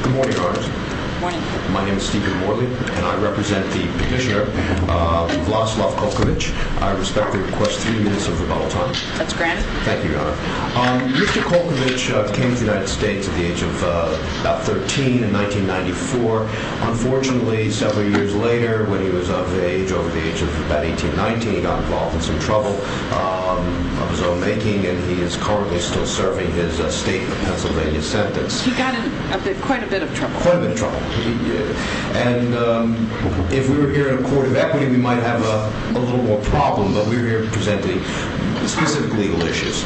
Good morning, Honors. Good morning. My name is Stephen Morley, and I represent the Commissioner Vlaslov-Kolkevich. I respectfully request three minutes of rebuttal time. That's granted. Thank you, Your Honor. Mr. Kolkevich came to the United States at the age of about 13 in 1994. Unfortunately, several years later, when he was of age over the age of about 18, 19, he got involved in some trouble of his own making, and he is currently still serving his state of Pennsylvania sentence. He got in quite a bit of trouble. And if we were here in a court of equity, we might have a little more problem, but we're here presenting specific legal issues.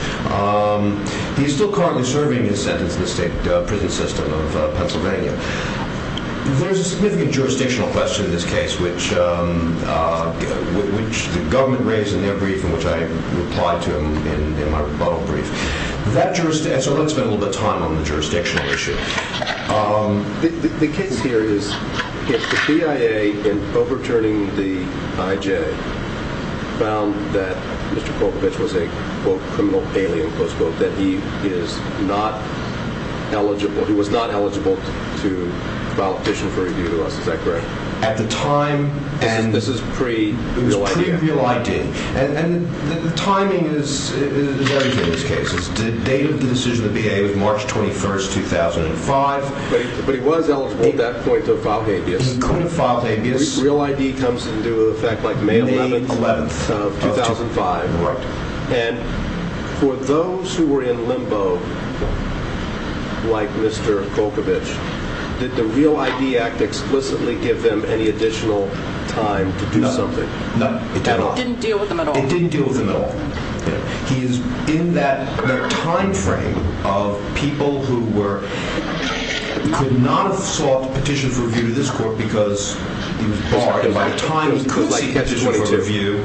He's still currently serving his sentence in the state prison system of Pennsylvania. There's a significant jurisdictional question in this case, which the government raised in their brief and which I replied to in my rebuttal brief. So let's spend a little bit of time on the jurisdictional issue. The case here is that the BIA, in overturning the IJ, found that Mr. Kolkevich was a, quote, criminal alien, close quote, that he is not eligible. He was not eligible to file a petition for review. Is that correct? At the time, and this is pre-view ID. And the timing is very different in this case. The date of the decision of the BIA was March 21st, 2005. But he was eligible at that point to file habeas. Real ID comes into effect like May 11th of 2005. Right. And for those who were in limbo, like Mr. Kolkevich, did the Real ID Act explicitly give them any additional time to do something? No, it did not. It didn't deal with them at all. It didn't deal with them at all. He is in that time frame of people who were, could not have sought a petition for review to this court because he was barred. And by the time he could seek a petition for review,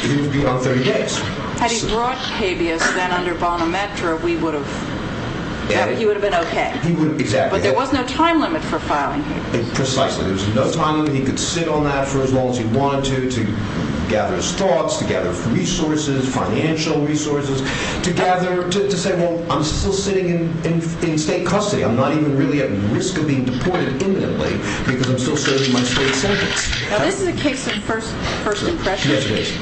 he would be on 30 days. Had he brought habeas, then under Bonametra, we would have, he would have been okay. Exactly. But there was no time limit for filing habeas. Precisely. There was no time limit. He could sit on that for as long as he wanted to, to gather his thoughts, to gather resources, financial resources, to gather, to say, well, I'm still sitting in state custody. I'm not even really at risk of being deported imminently because I'm still serving my state sentence. Now, this is a case of first impression. Yes, it is.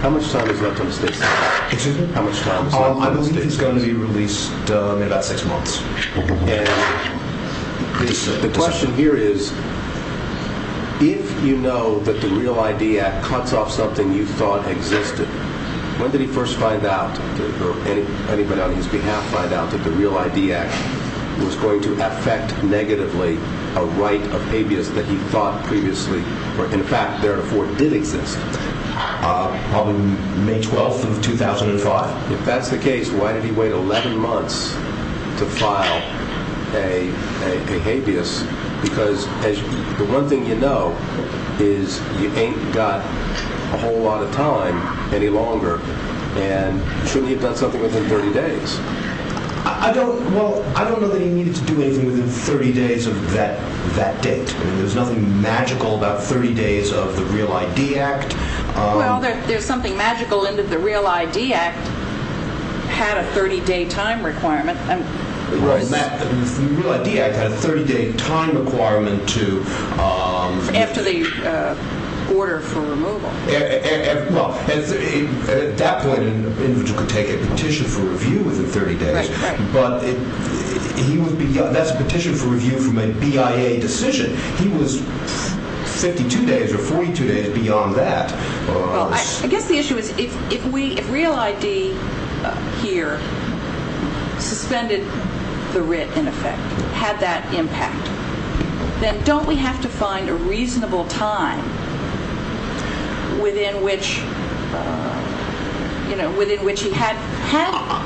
How much time is left on the state sentence? Excuse me? How much time is left on the state sentence? I believe he's going to be released in about six months. And the question here is, if you know that the REAL ID Act cuts off something you thought existed, when did he first find out, or anybody on his behalf find out, that the REAL ID Act was going to affect negatively a right of habeas that he thought previously, or in fact, therefore, did exist? Probably May 12th of 2005. If that's the case, why did he wait 11 months to file a habeas? Because the one thing you know is you ain't got a whole lot of time any longer, and you shouldn't have done something within 30 days. I don't know that he needed to do anything within 30 days of that date. There's nothing magical about 30 days of the REAL ID Act. Well, there's something magical in that the REAL ID Act had a 30-day time requirement. Right. The REAL ID Act had a 30-day time requirement to... After the order for removal. Well, at that point, an individual could take a petition for review within 30 days. Right, right. But that's a petition for review from a BIA decision. He was 52 days or 42 days beyond that. Well, I guess the issue is if REAL ID here suspended the writ, in effect, had that impact, then don't we have to find a reasonable time within which he had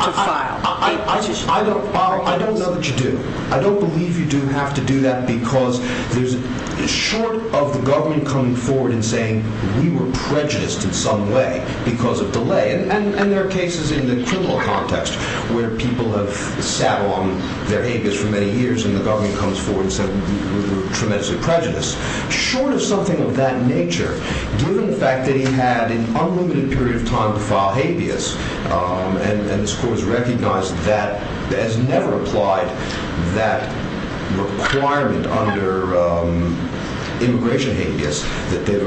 to file a petition? I don't know that you do. I don't believe you do have to do that because short of the government coming forward and saying, we were prejudiced in some way because of delay, and there are cases in the criminal context where people have sat on their habeas for many years and the government comes forward and says we were tremendously prejudiced. Short of something of that nature, given the fact that he had an unlimited period of time to file habeas, and this Court has recognized that, has never applied that requirement under immigration habeas, that they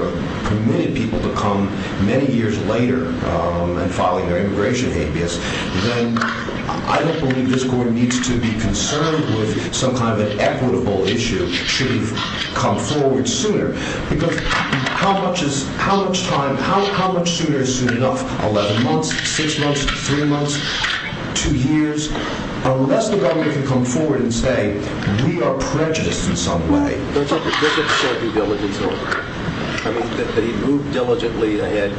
permitted people to come many years later and filing their immigration habeas, then I don't believe this Court needs to be concerned with some kind of an equitable issue should he come forward sooner. Because how much sooner is soon enough? 11 months, 6 months, 3 months, 2 years? Unless the government can come forward and say, we are prejudiced in some way. That's not the case. He moved diligently ahead.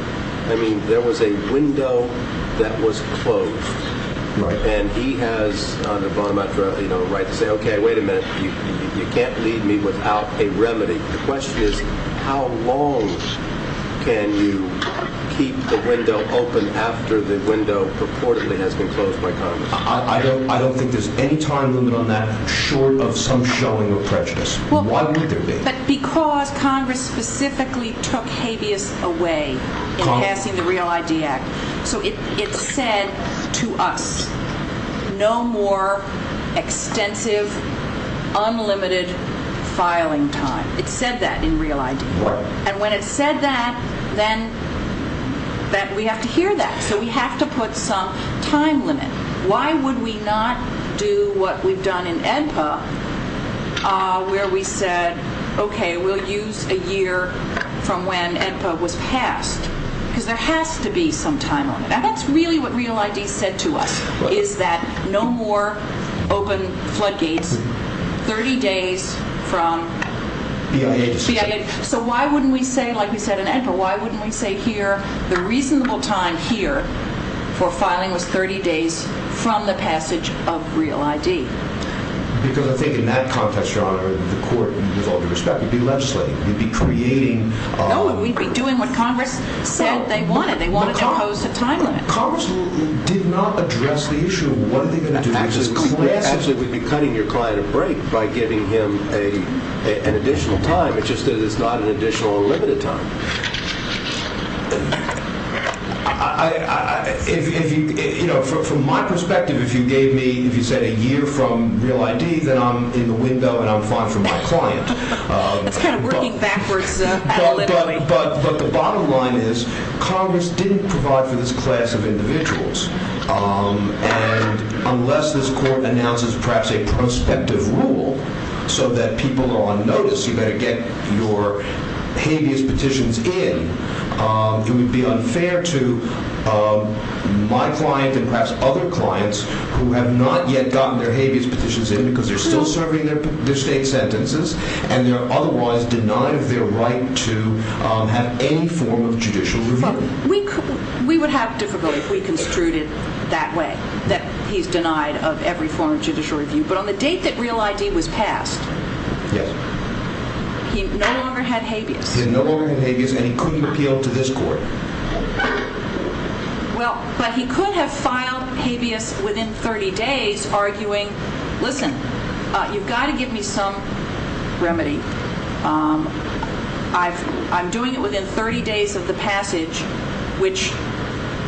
I mean, there was a window that was closed, and he has the right to say, okay, wait a minute, you can't leave me without a remedy. The question is, how long can you keep the window open after the window purportedly has been closed by Congress? I don't think there's any time limit on that short of some showing of prejudice. Why would there be? Because Congress specifically took habeas away in passing the Real ID Act. So it said to us, no more extensive, unlimited filing time. It said that in Real ID. And when it said that, then we have to hear that. So we have to put some time limit. Why would we not do what we've done in AEDPA where we said, okay, we'll use a year from when AEDPA was passed? Because there has to be some time limit. And that's really what Real ID said to us, is that no more open floodgates 30 days from BIA. So why wouldn't we say, like we said in AEDPA, why wouldn't we say here, the reasonable time here for filing was 30 days from the passage of Real ID? Because I think in that context, Your Honor, the court, with all due respect, would be legislating. We'd be creating. No, we'd be doing what Congress said they wanted. They wanted to impose a time limit. Congress did not address the issue of what are they going to do. Actually, we'd be cutting your client a break by giving him an additional time. It's just that it's not an additional unlimited time. From my perspective, if you gave me, if you said a year from Real ID, then I'm in the window and I'm fine for my client. It's kind of working backwards. But the bottom line is, Congress didn't provide for this class of individuals. And unless this court announces perhaps a prospective rule so that people are on notice, you better get your habeas petitions in, it would be unfair to my client and perhaps other clients who have not yet gotten their habeas petitions in because they're still serving their state sentences and they're otherwise denied their right to have any form of judicial review. We would have difficulty if we construed it that way, that he's denied of every form of judicial review. But on the date that Real ID was passed, he no longer had habeas. He no longer had habeas and he couldn't appeal to this court. Well, but he could have filed habeas within 30 days arguing, listen, you've got to give me some remedy. I'm doing it within 30 days of the passage, which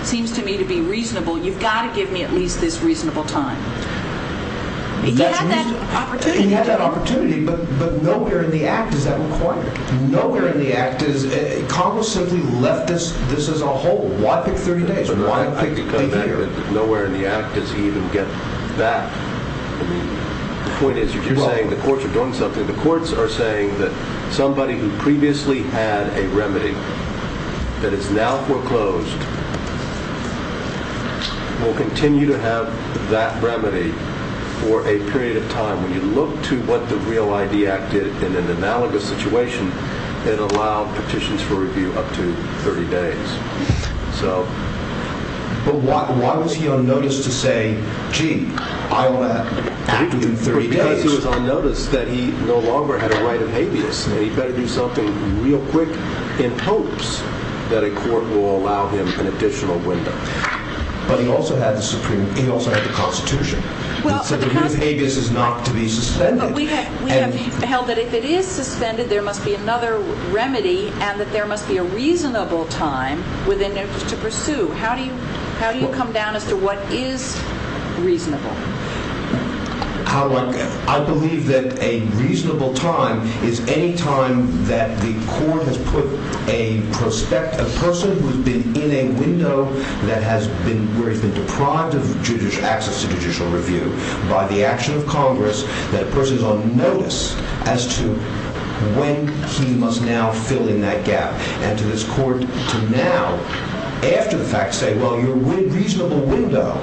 seems to me to be reasonable. You've got to give me at least this reasonable time. He had that opportunity. He had that opportunity, but nowhere in the act is that required. Congress simply left this as a whole. Why pick 30 days? Why pick a year? Nowhere in the act does he even get that. The point is, you're saying the courts are doing something. The courts are saying that somebody who previously had a remedy that is now foreclosed When you look to what the Real ID Act did in an analogous situation, it allowed petitions for review up to 30 days. But why was he on notice to say, gee, I'll act within 30 days? Because he was on notice that he no longer had a right of habeas. He better do something real quick in hopes that a court will allow him an additional window. But he also had the Constitution. So the new habeas is not to be suspended. But we have held that if it is suspended, there must be another remedy, and that there must be a reasonable time within which to pursue. How do you come down as to what is reasonable? I believe that a reasonable time is any time that the court has put a person who has been in a window where he's been deprived of access to judicial review by the action of Congress, that a person is on notice as to when he must now fill in that gap. And to this court to now, after the fact, say, well, your reasonable window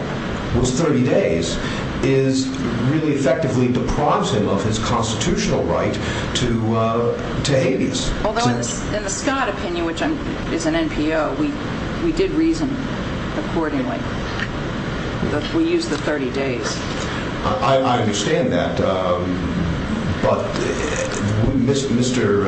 was 30 days, really effectively deprives him of his constitutional right to habeas. Although in the Scott opinion, which is an NPO, we did reason accordingly. We used the 30 days. I understand that. But Mr.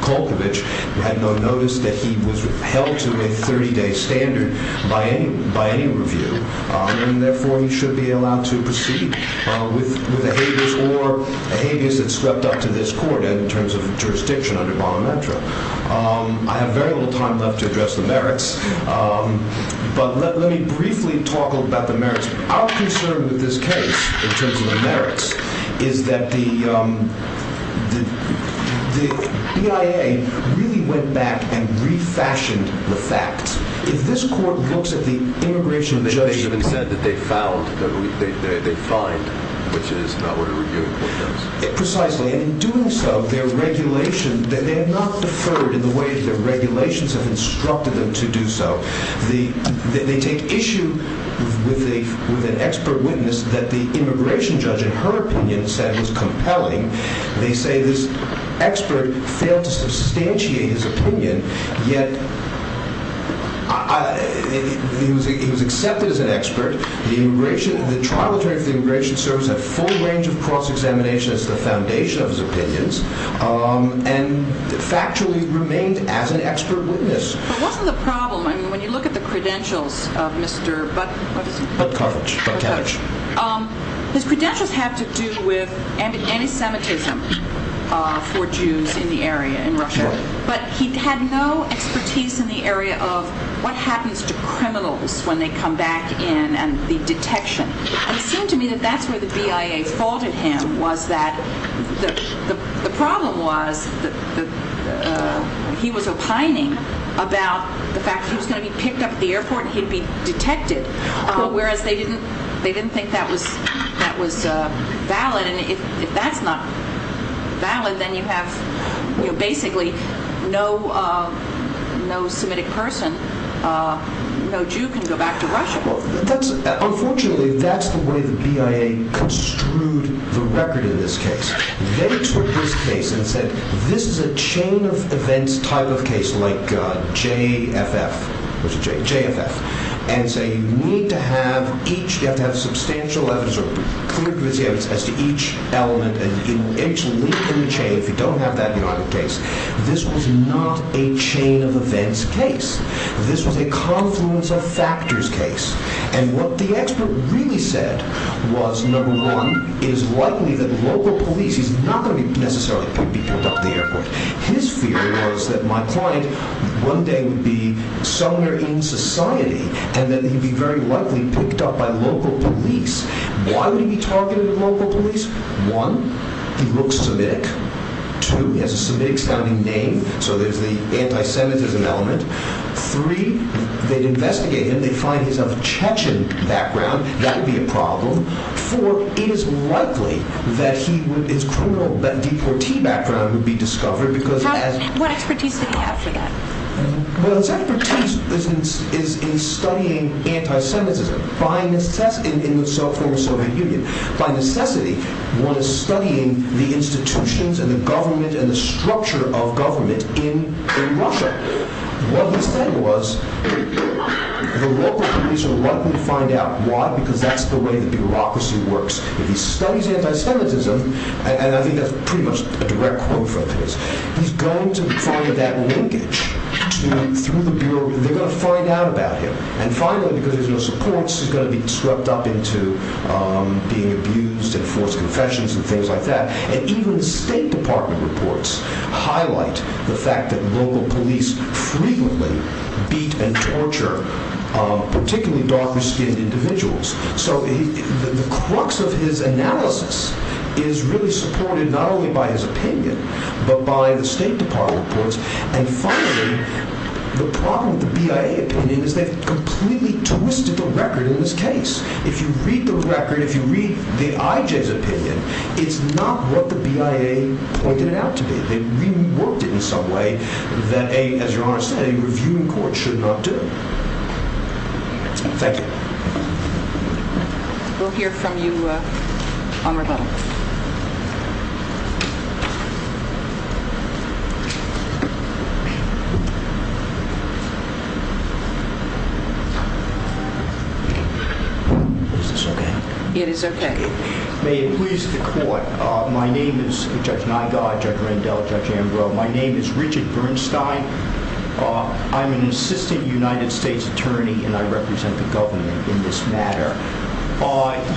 Kulkovich had no notice that he was held to a 30-day standard by any review, and therefore he should be allowed to proceed with a habeas or a habeas that swept up to this court in terms of jurisdiction under Bono Metro. I have very little time left to address the merits, but let me briefly talk about the merits. Our concern with this case in terms of the merits is that the BIA really went back and refashioned the facts. If this court looks at the immigration judgment... They even said that they found, they fined, which is not what a review court does. Precisely, in doing so, their regulation, they have not deferred in the way that their regulations have instructed them to do so. They take issue with an expert witness that the immigration judge, in her opinion, said was compelling. They say this expert failed to substantiate his opinion, yet he was accepted as an expert. The trial attorney for the Immigration Service had a full range of cross-examination as the foundation of his opinions, and factually remained as an expert witness. But wasn't the problem, when you look at the credentials of Mr. Budkovich, his credentials have to do with anti-Semitism for Jews in the area, in Russia. But he had no expertise in the area of what happens to criminals when they come back in, and the detection. It seemed to me that that's where the BIA faulted him, was that the problem was that he was opining about the fact that he was going to be picked up at the airport and he'd be detected, whereas they didn't think that was valid, and if that's not valid, then you have basically no Semitic person, no Jew can go back to Russia. Unfortunately, that's the way the BIA construed the record in this case. They took this case and said, this is a chain of events type of case, like JFF, and say you need to have each, you have to have substantial evidence or clear evidence as to each element, and each link in the chain, if you don't have that, you don't have the case. This was not a chain of events case. This was a confluence of factors case. And what the expert really said was, number one, it is likely that local police, he's not necessarily going to be picked up at the airport. His fear was that my client one day would be somewhere in society, and that he'd be very likely picked up by local police. Why would he be targeted by local police? One, he looks Semitic. Two, he has a Semitic-sounding name, so there's the anti-Semitism element. Three, they'd investigate him. They'd find his Chechen background. That would be a problem. Four, it is likely that his criminal deportee background would be discovered. What expertise did he have for that? His expertise is in studying anti-Semitism in the former Soviet Union. By necessity, one is studying the institutions and the government and the structure of government in Russia. What he said was, the local police are likely to find out why, because that's the way the bureaucracy works. If he studies anti-Semitism, and I think that's pretty much a direct quote from his, he's going to find that linkage through the Bureau. They're going to find out about him. And finally, because there's no supports, he's going to be swept up into being abused and forced confessions and things like that. And even the State Department reports highlight the fact that local police frequently beat and torture particularly dark-skinned individuals. So the crux of his analysis is really supported not only by his opinion, but by the State Department reports. And finally, the problem with the BIA opinion is they've completely twisted the record in this case. If you read the record, if you read the IJ's opinion, it's not what the BIA pointed it out to be. They reworked it in some way that a, as your Honor said, a reviewing court should not do. Thank you. We'll hear from you on rebuttal. Is this okay? It is okay. May it please the Court. My name is Judge Nigar, Judge Randell, Judge Ambrose. My name is Richard Bernstein. I'm an assistant United States attorney, and I represent the government in this matter.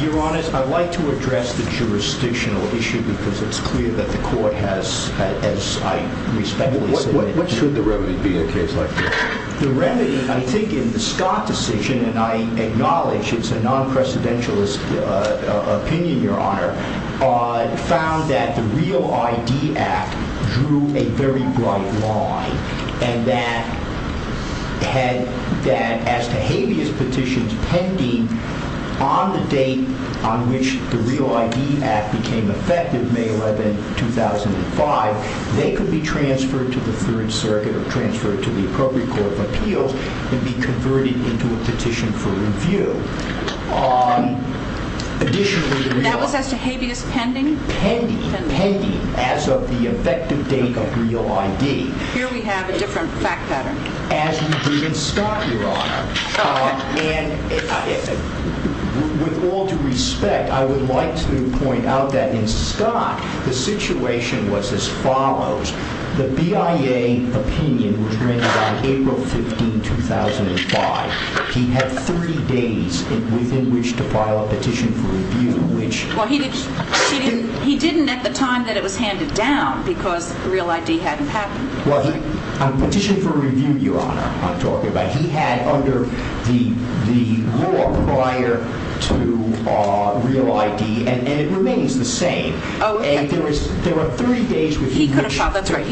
Your Honor, I'd like to address the jurisdictional issue because it's clear that the Court has, as I respectfully say. What should the remedy be in a case like this? The remedy, I think in the Scott decision, and I acknowledge it's a non-precedentialist opinion, Your Honor, found that the REAL ID Act drew a very bright line and that as to habeas petitions pending on the date on which the REAL ID Act became effective, May 11, 2005, they could be transferred to the Third Circuit or transferred to the Appropriate Court of Appeals and be converted into a petition for review. That was as to habeas pending? Pending. As of the effective date of REAL ID. Here we have a different fact pattern. As we do in Scott, Your Honor. With all due respect, I would like to point out that in Scott, the situation was as follows. The BIA opinion was rendered on April 15, 2005. He had three days within which to file a petition for review. He didn't at the time that it was handed down because REAL ID hadn't happened. A petition for review, Your Honor, I'm talking about. He had under the law prior to REAL ID and it remains the same. There were 30 days. He could have filed, that's right.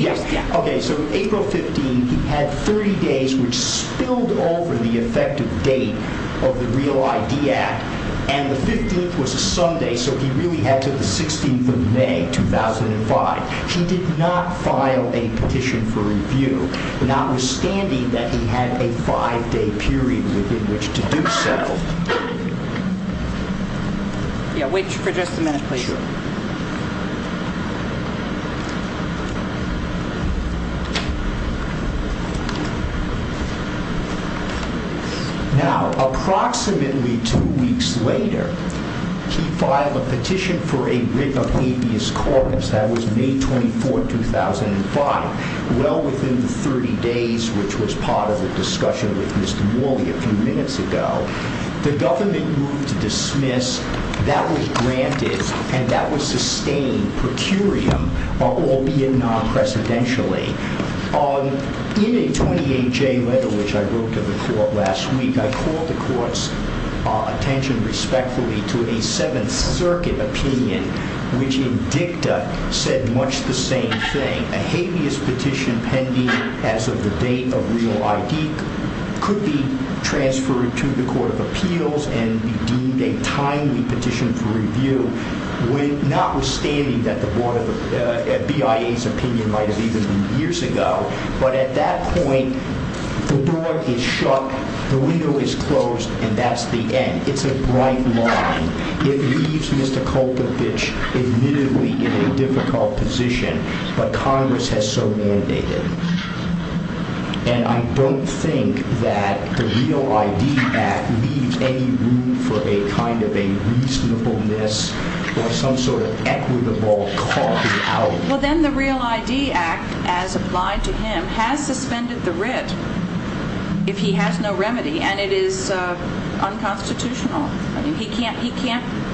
So April 15, he had 30 days, which spilled over the effective date of the REAL ID Act. And the 15th was a Sunday, so he really had to the 16th of May, 2005. He did not file a petition for review, notwithstanding that he had a five-day period within which to do so. Wait for just a minute, please. Now, approximately two weeks later, he filed a petition for a writ of appease court. That was May 24, 2005, well within the 30 days which was part of the discussion with Mr. Morley a few minutes ago. That was granted and that was sustained per curiam, albeit non-presidentially. In a 28-J letter which I wrote to the court last week, I called the court's attention respectfully to a Seventh Circuit opinion, which in dicta said much the same thing. A habeas petition pending as of the date of REAL ID could be transferred to the Court of Appeals and be deemed a timely petition for review, notwithstanding that the BIA's opinion might have even been years ago. But at that point, the door is shut, the window is closed, and that's the end. It's a bright line. It leaves Mr. Kulpovich admittedly in a difficult position, but Congress has so mandated. And I don't think that the REAL ID Act leaves any room for a kind of a reasonableness or some sort of equitable call out. Well, then the REAL ID Act, as applied to him, has suspended the writ if he has no remedy, and it is unconstitutional.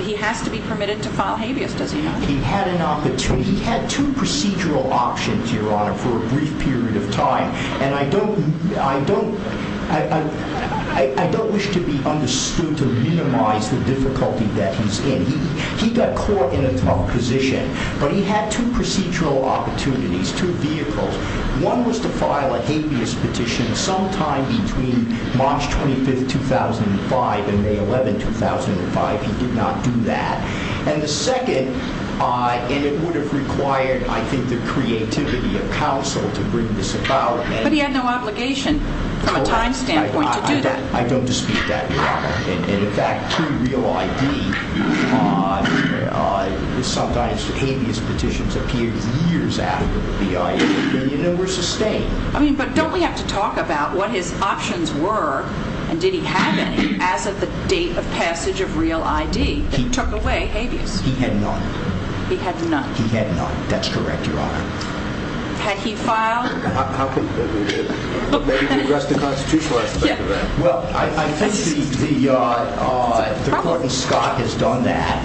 He has to be permitted to file habeas, doesn't he? He had two procedural options, Your Honor, for a brief period of time. And I don't wish to be understood to minimize the difficulty that he's in. He got caught in a tough position, but he had two procedural opportunities, two vehicles. One was to file a habeas petition sometime between March 25, 2005 and May 11, 2005. He did not do that. And the second, and it would have required, I think, the creativity of counsel to bring this about. But he had no obligation from a time standpoint to do that. I don't dispute that, Your Honor. And in fact, to REAL ID, sometimes habeas petitions appear years after the REAL ID, and you know we're sustained. I mean, but don't we have to talk about what his options were, and did he have any, as of the date of passage of REAL ID that took away habeas? He had none. He had none. He had none. That's correct, Your Honor. Had he filed? Maybe address the constitutional aspect of that. Well, I think the Court in Scott has done that,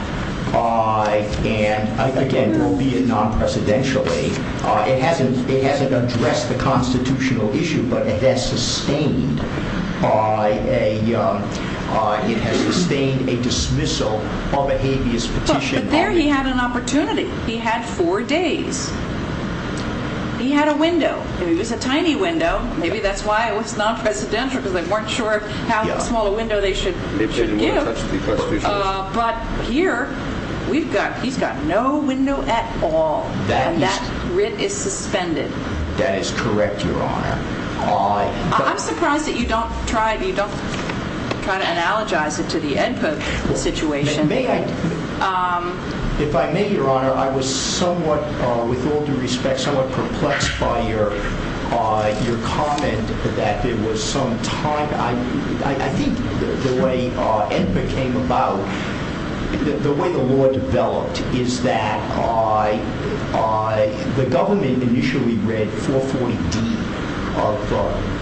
and again, albeit non-presidentially, it hasn't addressed the constitutional issue, but it has sustained a dismissal of a habeas petition. But there he had an opportunity. He had four days. He had a window. It was a tiny window. Maybe that's why it was non-presidential, because they weren't sure how small a window they should give. They didn't want to touch the constitutional issue. But here, he's got no window at all, and that writ is suspended. That is correct, Your Honor. I'm surprised that you don't try to analogize it to the EdPub situation. If I may, Your Honor, I was somewhat, with all due respect, somewhat perplexed by your comment that there was some time. I think the way EdPub came about, the way the law developed is that the government initially read 440D of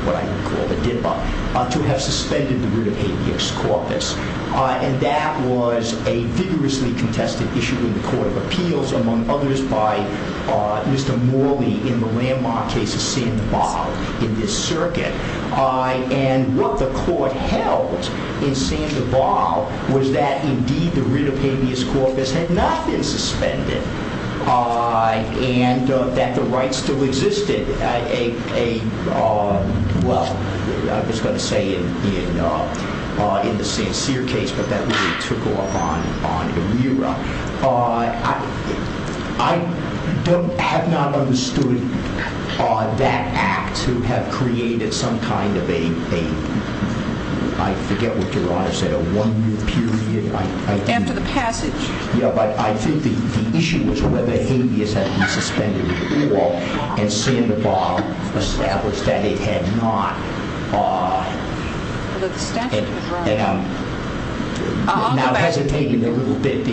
what I would call the DIPA to have suspended the root of habeas corpus. And that was a vigorously contested issue in the Court of Appeals, among others, by Mr. Morley in the landmark case of Sandoval in this circuit. And what the court held in Sandoval was that, indeed, the root of habeas corpus had not been suspended and that the right still existed. A, well, I was going to say in the Sancerre case, but that really took off on ERIRA. I have not understood that act to have created some kind of a, I forget what Your Honor said, a one-year period. After the passage. Yeah, but I think the issue was whether habeas had been suspended at all and Sandoval established that it had not. Although the statute was wrong. And I'm now hesitating a little bit.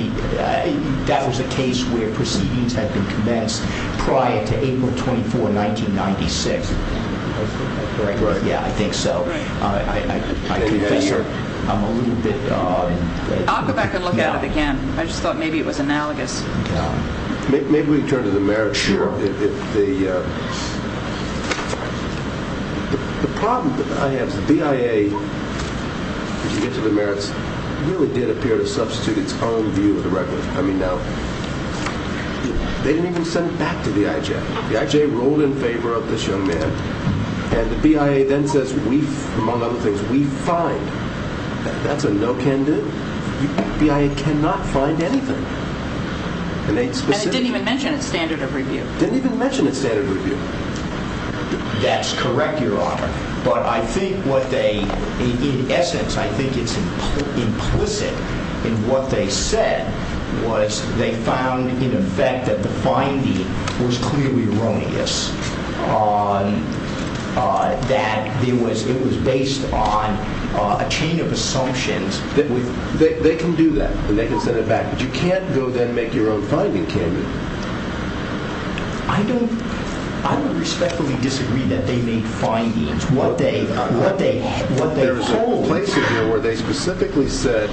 That was a case where proceedings had been commenced prior to April 24, 1996. Right. Yeah, I think so. Right. I confess I'm a little bit. I'll go back and look at it again. I just thought maybe it was analogous. Maybe we can turn to the merits. Sure. The problem that I have is the BIA, if you get to the merits, really did appear to substitute its own view of the record. I mean, now, they didn't even send it back to the IJ. The IJ ruled in favor of this young man. And the BIA then says, among other things, we find. That's a no-can-do. The BIA cannot find anything. And it didn't even mention its standard of review. It didn't even mention its standard of review. That's correct, Your Honor. But I think what they, in essence, I think it's implicit in what they said was they found, in effect, that the finding was clearly erroneous, that it was based on a chain of assumptions. They can do that, and they can send it back. But you can't go then and make your own finding, can you? I don't respectfully disagree that they made findings, what they hold. There's a whole place in here where they specifically said,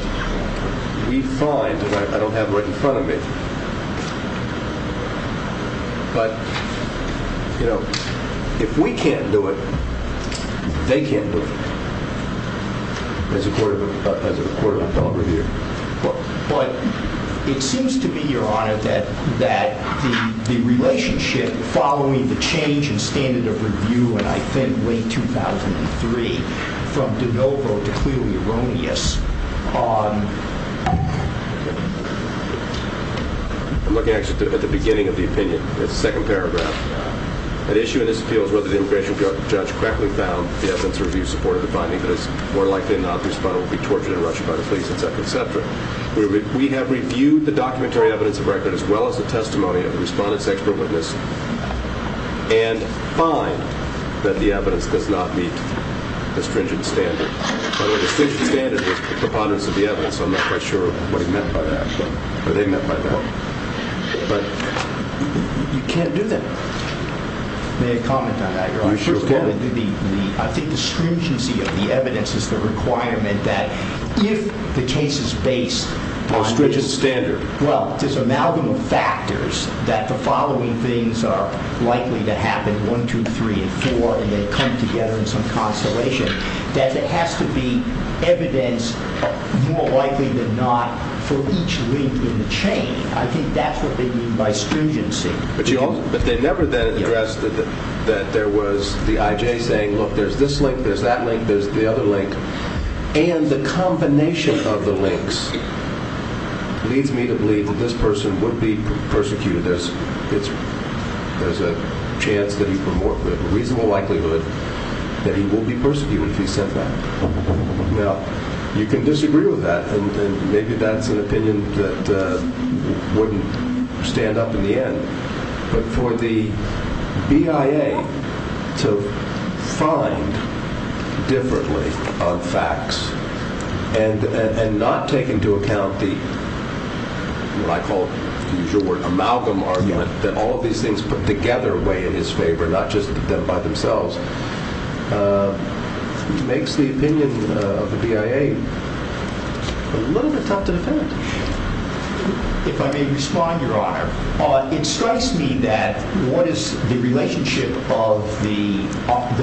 we find, and I don't have it right in front of me. But, you know, if we can't do it, they can't do it, as a court of appellate review. But it seems to me, Your Honor, that the relationship, following the change in standard of review in, I think, late 2003, from de novo to clearly erroneous. I'm looking, actually, at the beginning of the opinion. It's the second paragraph. The issue in this appeal is whether the immigration judge correctly found the evidence of review supported the finding that it's more likely not the respondent will be tortured and rushed by the police, etc., etc. We have reviewed the documentary evidence of record, as well as the testimony of the respondent's expert witness, and find that the evidence does not meet the stringent standard. By the way, the stringent standard is preponderance of the evidence, so I'm not quite sure what he meant by that, or they meant by that. But you can't do that. May I comment on that, Your Honor? You sure can. I think the stringency of the evidence is the requirement that if the case is based on this... On a stringent standard. Well, there's an amalgam of factors that the following things are likely to happen, 1, 2, 3, and 4, and they come together in some constellation, that there has to be evidence more likely than not for each link in the chain. I think that's what they mean by stringency. But they never then addressed that there was the I.J. saying, look, there's this link, there's that link, there's the other link. And the combination of the links leads me to believe that this person would be persecuted. There's a chance that he, a reasonable likelihood that he will be persecuted if he said that. Now, you can disagree with that, and maybe that's an opinion that wouldn't stand up in the end. But for the BIA to find differently on facts and not take into account the, what I call, the usual word, amalgam argument that all of these things put together weigh in his favor, not just them by themselves, makes the opinion of the BIA a little bit tough to defend. If I may respond, Your Honor. It strikes me that what is the relationship of the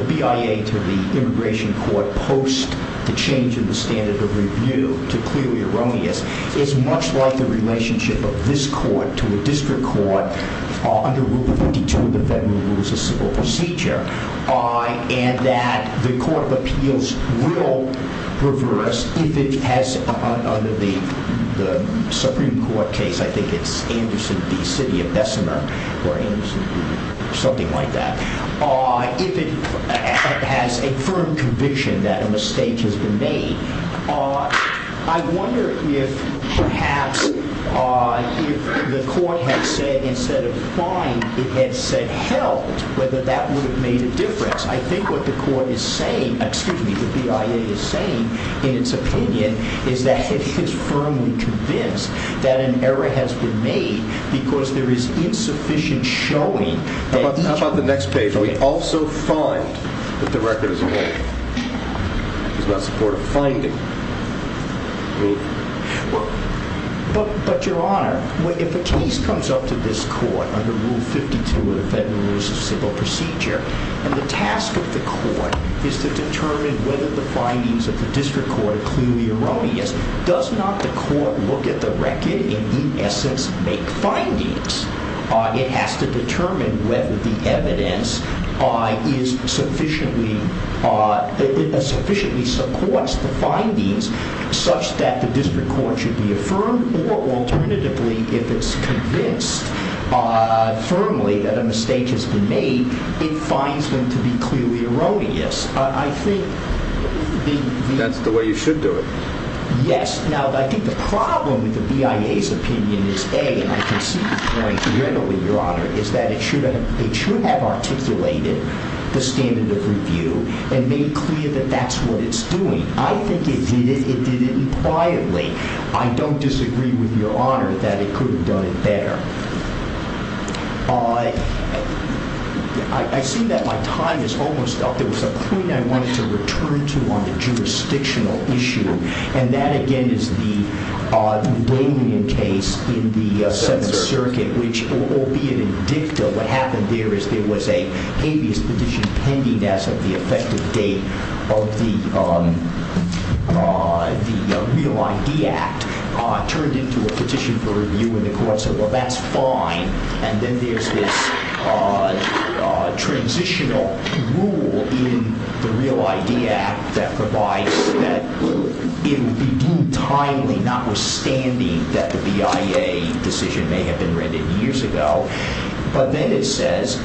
BIA to the immigration court post the change in the standard of review to clearly erroneous is much like the relationship of this court to a district court under Rule 52 of the Federal Rules of Civil Procedure. And that the Court of Appeals will reverse if it has, under the Supreme Court case, I think it's Anderson v. City of Bessemer or Anderson v. something like that, if it has a firm conviction that a mistake has been made. I wonder if, perhaps, if the court had said, instead of find, it had said held, whether that would have made a difference. I think what the court is saying, excuse me, what the BIA is saying, in its opinion, is that it is firmly convinced that an error has been made because there is insufficient showing. How about the next page? So we also find that the record is erroneous. It's not supportive of finding. I mean, sure. But, Your Honor, if a case comes up to this court under Rule 52 of the Federal Rules of Civil Procedure, and the task of the court is to determine whether the findings of the district court are clearly erroneous, does not the court look at the record and, in essence, make findings? It has to determine whether the evidence sufficiently supports the findings such that the district court should be affirmed or, alternatively, if it's convinced firmly that a mistake has been made, it finds them to be clearly erroneous. I think the... That's the way you should do it. Yes. Now, I think the problem with the BIA's opinion is, A, and I can see the point readily, Your Honor, is that it should have articulated the standard of review and made clear that that's what it's doing. I think it did it. It did it impliedly. I don't disagree with Your Honor that it could have done it better. I see that my time is almost up. There was a point I wanted to return to on a jurisdictional issue, and that, again, is the Damien case in the Seventh Circuit, which, albeit in dicta, what happened there is there was a habeas petition pending as of the effective date of the Real ID Act turned into a petition for review in the court. So, well, that's fine. And then there's this transitional rule in the Real ID Act that provides that it would be deemed timely, notwithstanding that the BIA decision may have been rendered years ago. But then it says,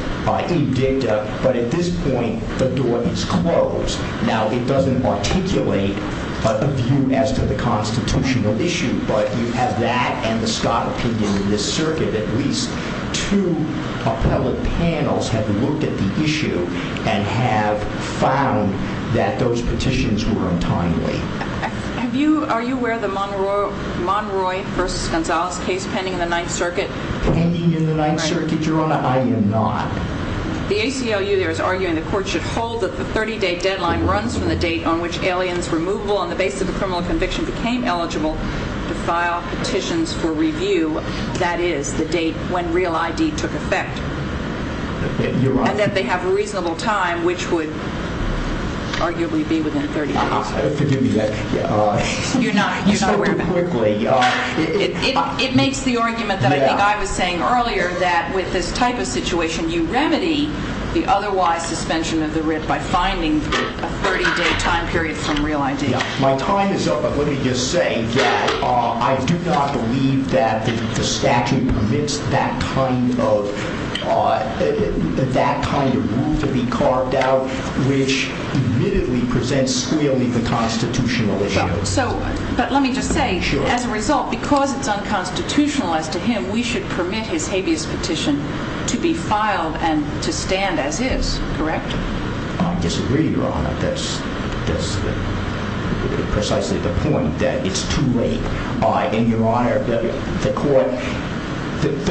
in dicta, but at this point, the door is closed. Now, it doesn't articulate a view as to the constitutional issue, but you have that and the Scott opinion in this circuit. At least two appellate panels have looked at the issue and have found that those petitions were untimely. Are you aware of the Monroy v. Gonzales case pending in the Ninth Circuit? Pending in the Ninth Circuit, Your Honor? I am not. The ACLU there is arguing the court should hold that the 30-day deadline runs from the date on which aliens removable on the basis of a criminal conviction became eligible to file petitions for review. That is the date when Real ID took effect. And that they have a reasonable time, which would arguably be within 30 days. Forgive me. You're not aware of that? It makes the argument that I think I was saying earlier, that with this type of situation, you remedy the otherwise suspension of the writ by finding a 30-day time period from Real ID. My time is up, but let me just say that I do not believe that the statute permits that kind of rule to be carved out, which admittedly presents squealing the constitutional issue. But let me just say, as a result, because it's unconstitutional as to him, we should permit his habeas petition to be filed and to stand as is, correct? I disagree, Your Honor. That's precisely the point, that it's too late. And, Your Honor, the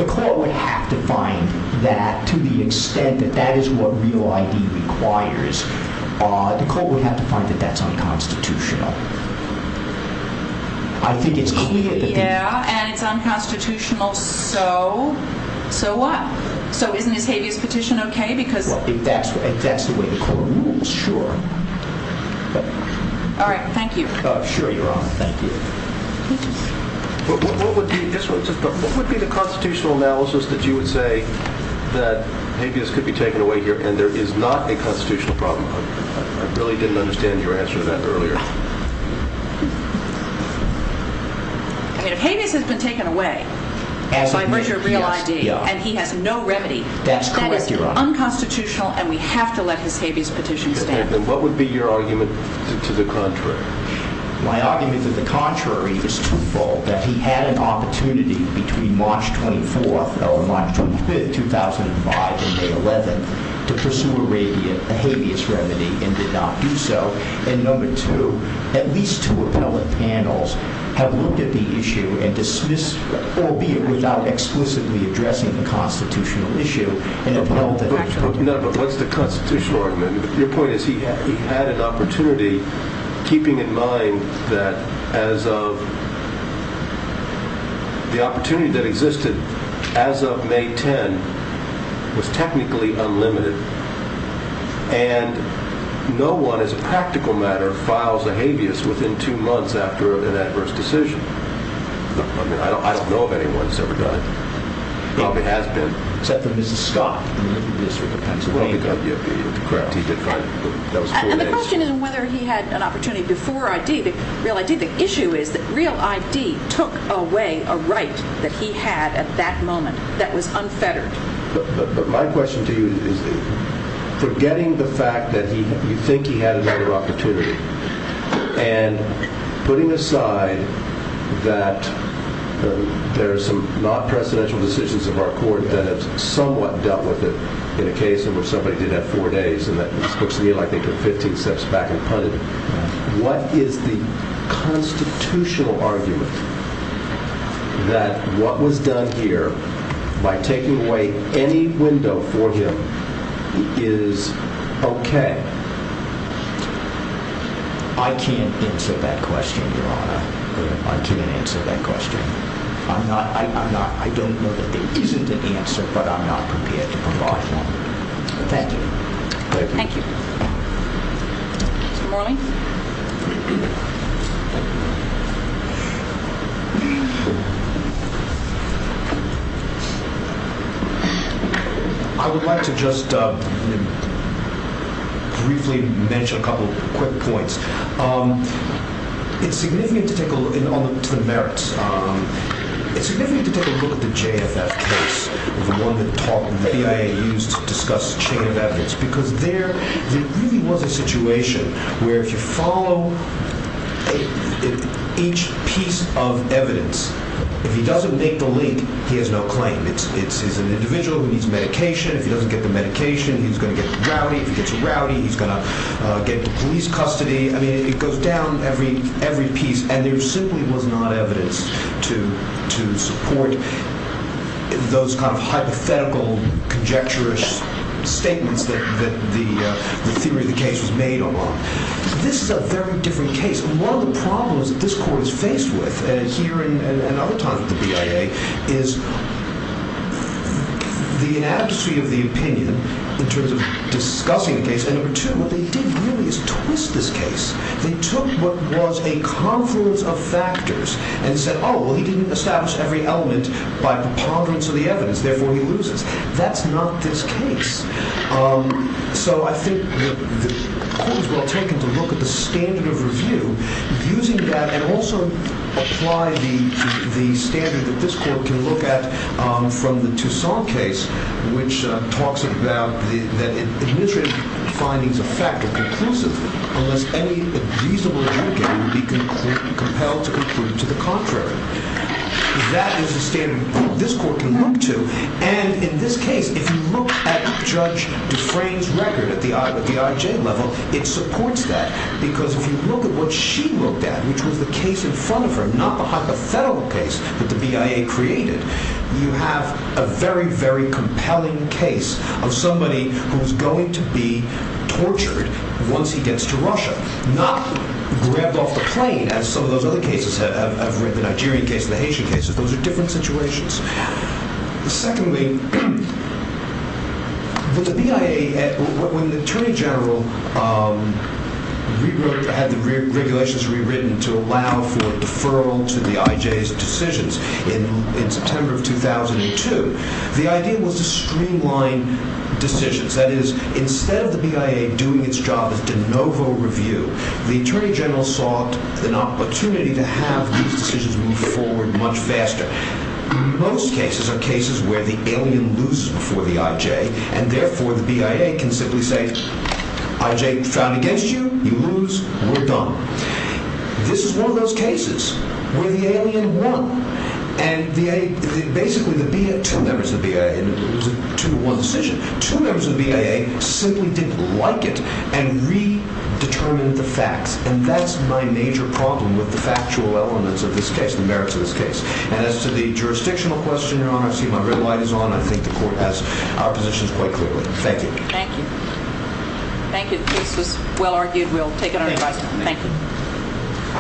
court would have to find that, to the extent that that is what Real ID requires, the court would have to find that that's unconstitutional. I think it's clear. Yeah, and it's unconstitutional, so? So what? So isn't his habeas petition okay? Well, if that's the way the court rules, sure. All right, thank you. Sure, Your Honor. Thank you. What would be the constitutional analysis that you would say that habeas could be taken away here and there is not a constitutional problem? I really didn't understand your answer to that earlier. I mean, if habeas has been taken away, so I merger Real ID, and he has no remedy, that is unconstitutional, and we have to let his habeas petition stand. And what would be your argument to the contrary? My argument to the contrary is twofold. That he had an opportunity between March 24th or March 25th, 2005, and May 11th to pursue a habeas remedy and did not do so. And number two, at least two appellate panels have looked at the issue and dismissed, albeit without explicitly addressing the constitutional issue. But what's the constitutional argument? Your point is he had an opportunity, keeping in mind that as of the opportunity that existed as of May 10 was technically unlimited. And no one, as a practical matter, files a habeas within two months after an adverse decision. I mean, I don't know of anyone who's ever done it. Except for Mrs. Scott. And the question isn't whether he had an opportunity before Real ID. The issue is that Real ID took away a right that he had at that moment that was unfettered. But my question to you is, forgetting the fact that you think he had another opportunity, and putting aside that there are some not-presidential decisions of our court that have somewhat dealt with it in a case in which somebody did that four days, and that looks to me like they took 15 steps back and put it, what is the constitutional argument that what was done here by taking away any window for him is okay? I can't answer that question, Your Honor. I can't answer that question. I don't know that there isn't an answer, but I'm not prepared to provide one. Thank you. Thank you. Mr. Morley? I would like to just briefly mention a couple of quick points. It's significant to take a look at the merits. It's significant to take a look at the JFF case, the one that the BIA used to discuss chain of evidence, because there really was a situation where if you follow each piece of evidence, if he doesn't make the link, he has no claim. It's an individual who needs medication. If he doesn't get the medication, he's going to get a rowdy. If he gets a rowdy, he's going to get into police custody. I mean, it goes down every piece, and there simply was not evidence to support those kind of hypothetical, conjecturous statements that the theory of the case was made on. This is a very different case. One of the problems that this court is faced with here and other times at the BIA is the ineptitude of the opinion in terms of discussing the case, and number two, what they did really is twist this case. They took what was a confluence of factors and said, oh, well, he didn't establish every element by preponderance of the evidence. Therefore, he loses. That's not this case. So I think the court was well taken to look at the standard of review, using that, and also apply the standard that this court can look at from the Toussaint case, which talks about that administrative findings of fact are conclusive unless any reasonable adjudicator would be compelled to conclude to the contrary. That is the standard this court can look to, and in this case, if you look at Judge Dufresne's record at the IJ level, it supports that because if you look at what she looked at, which was the case in front of her, not the hypothetical case that the BIA created, you have a very, very compelling case of somebody who's going to be tortured once he gets to Russia, not grabbed off the plane, as some of those other cases have written, the Nigerian case, the Haitian case. Those are different situations. Secondly, with the BIA, when the Attorney General had the regulations rewritten to allow for deferral to the IJ's decisions in September of 2002, the idea was to streamline decisions. That is, instead of the BIA doing its job as de novo review, the Attorney General sought an opportunity to have these decisions move forward much faster. Most cases are cases where the alien loses before the IJ, and therefore the BIA can simply say, IJ found against you, you lose, we're done. This is one of those cases where the alien won, and basically two members of the BIA, and it was a two-to-one decision, two members of the BIA simply didn't like it and redetermined the facts. And that's my major problem with the factual elements of this case, the merits of this case. And as to the jurisdictional question, Your Honor, I see my red light is on. I think the Court has our positions quite clearly. Thank you. Thank you. Thank you. The case was well-argued. We'll take another question. Thank you.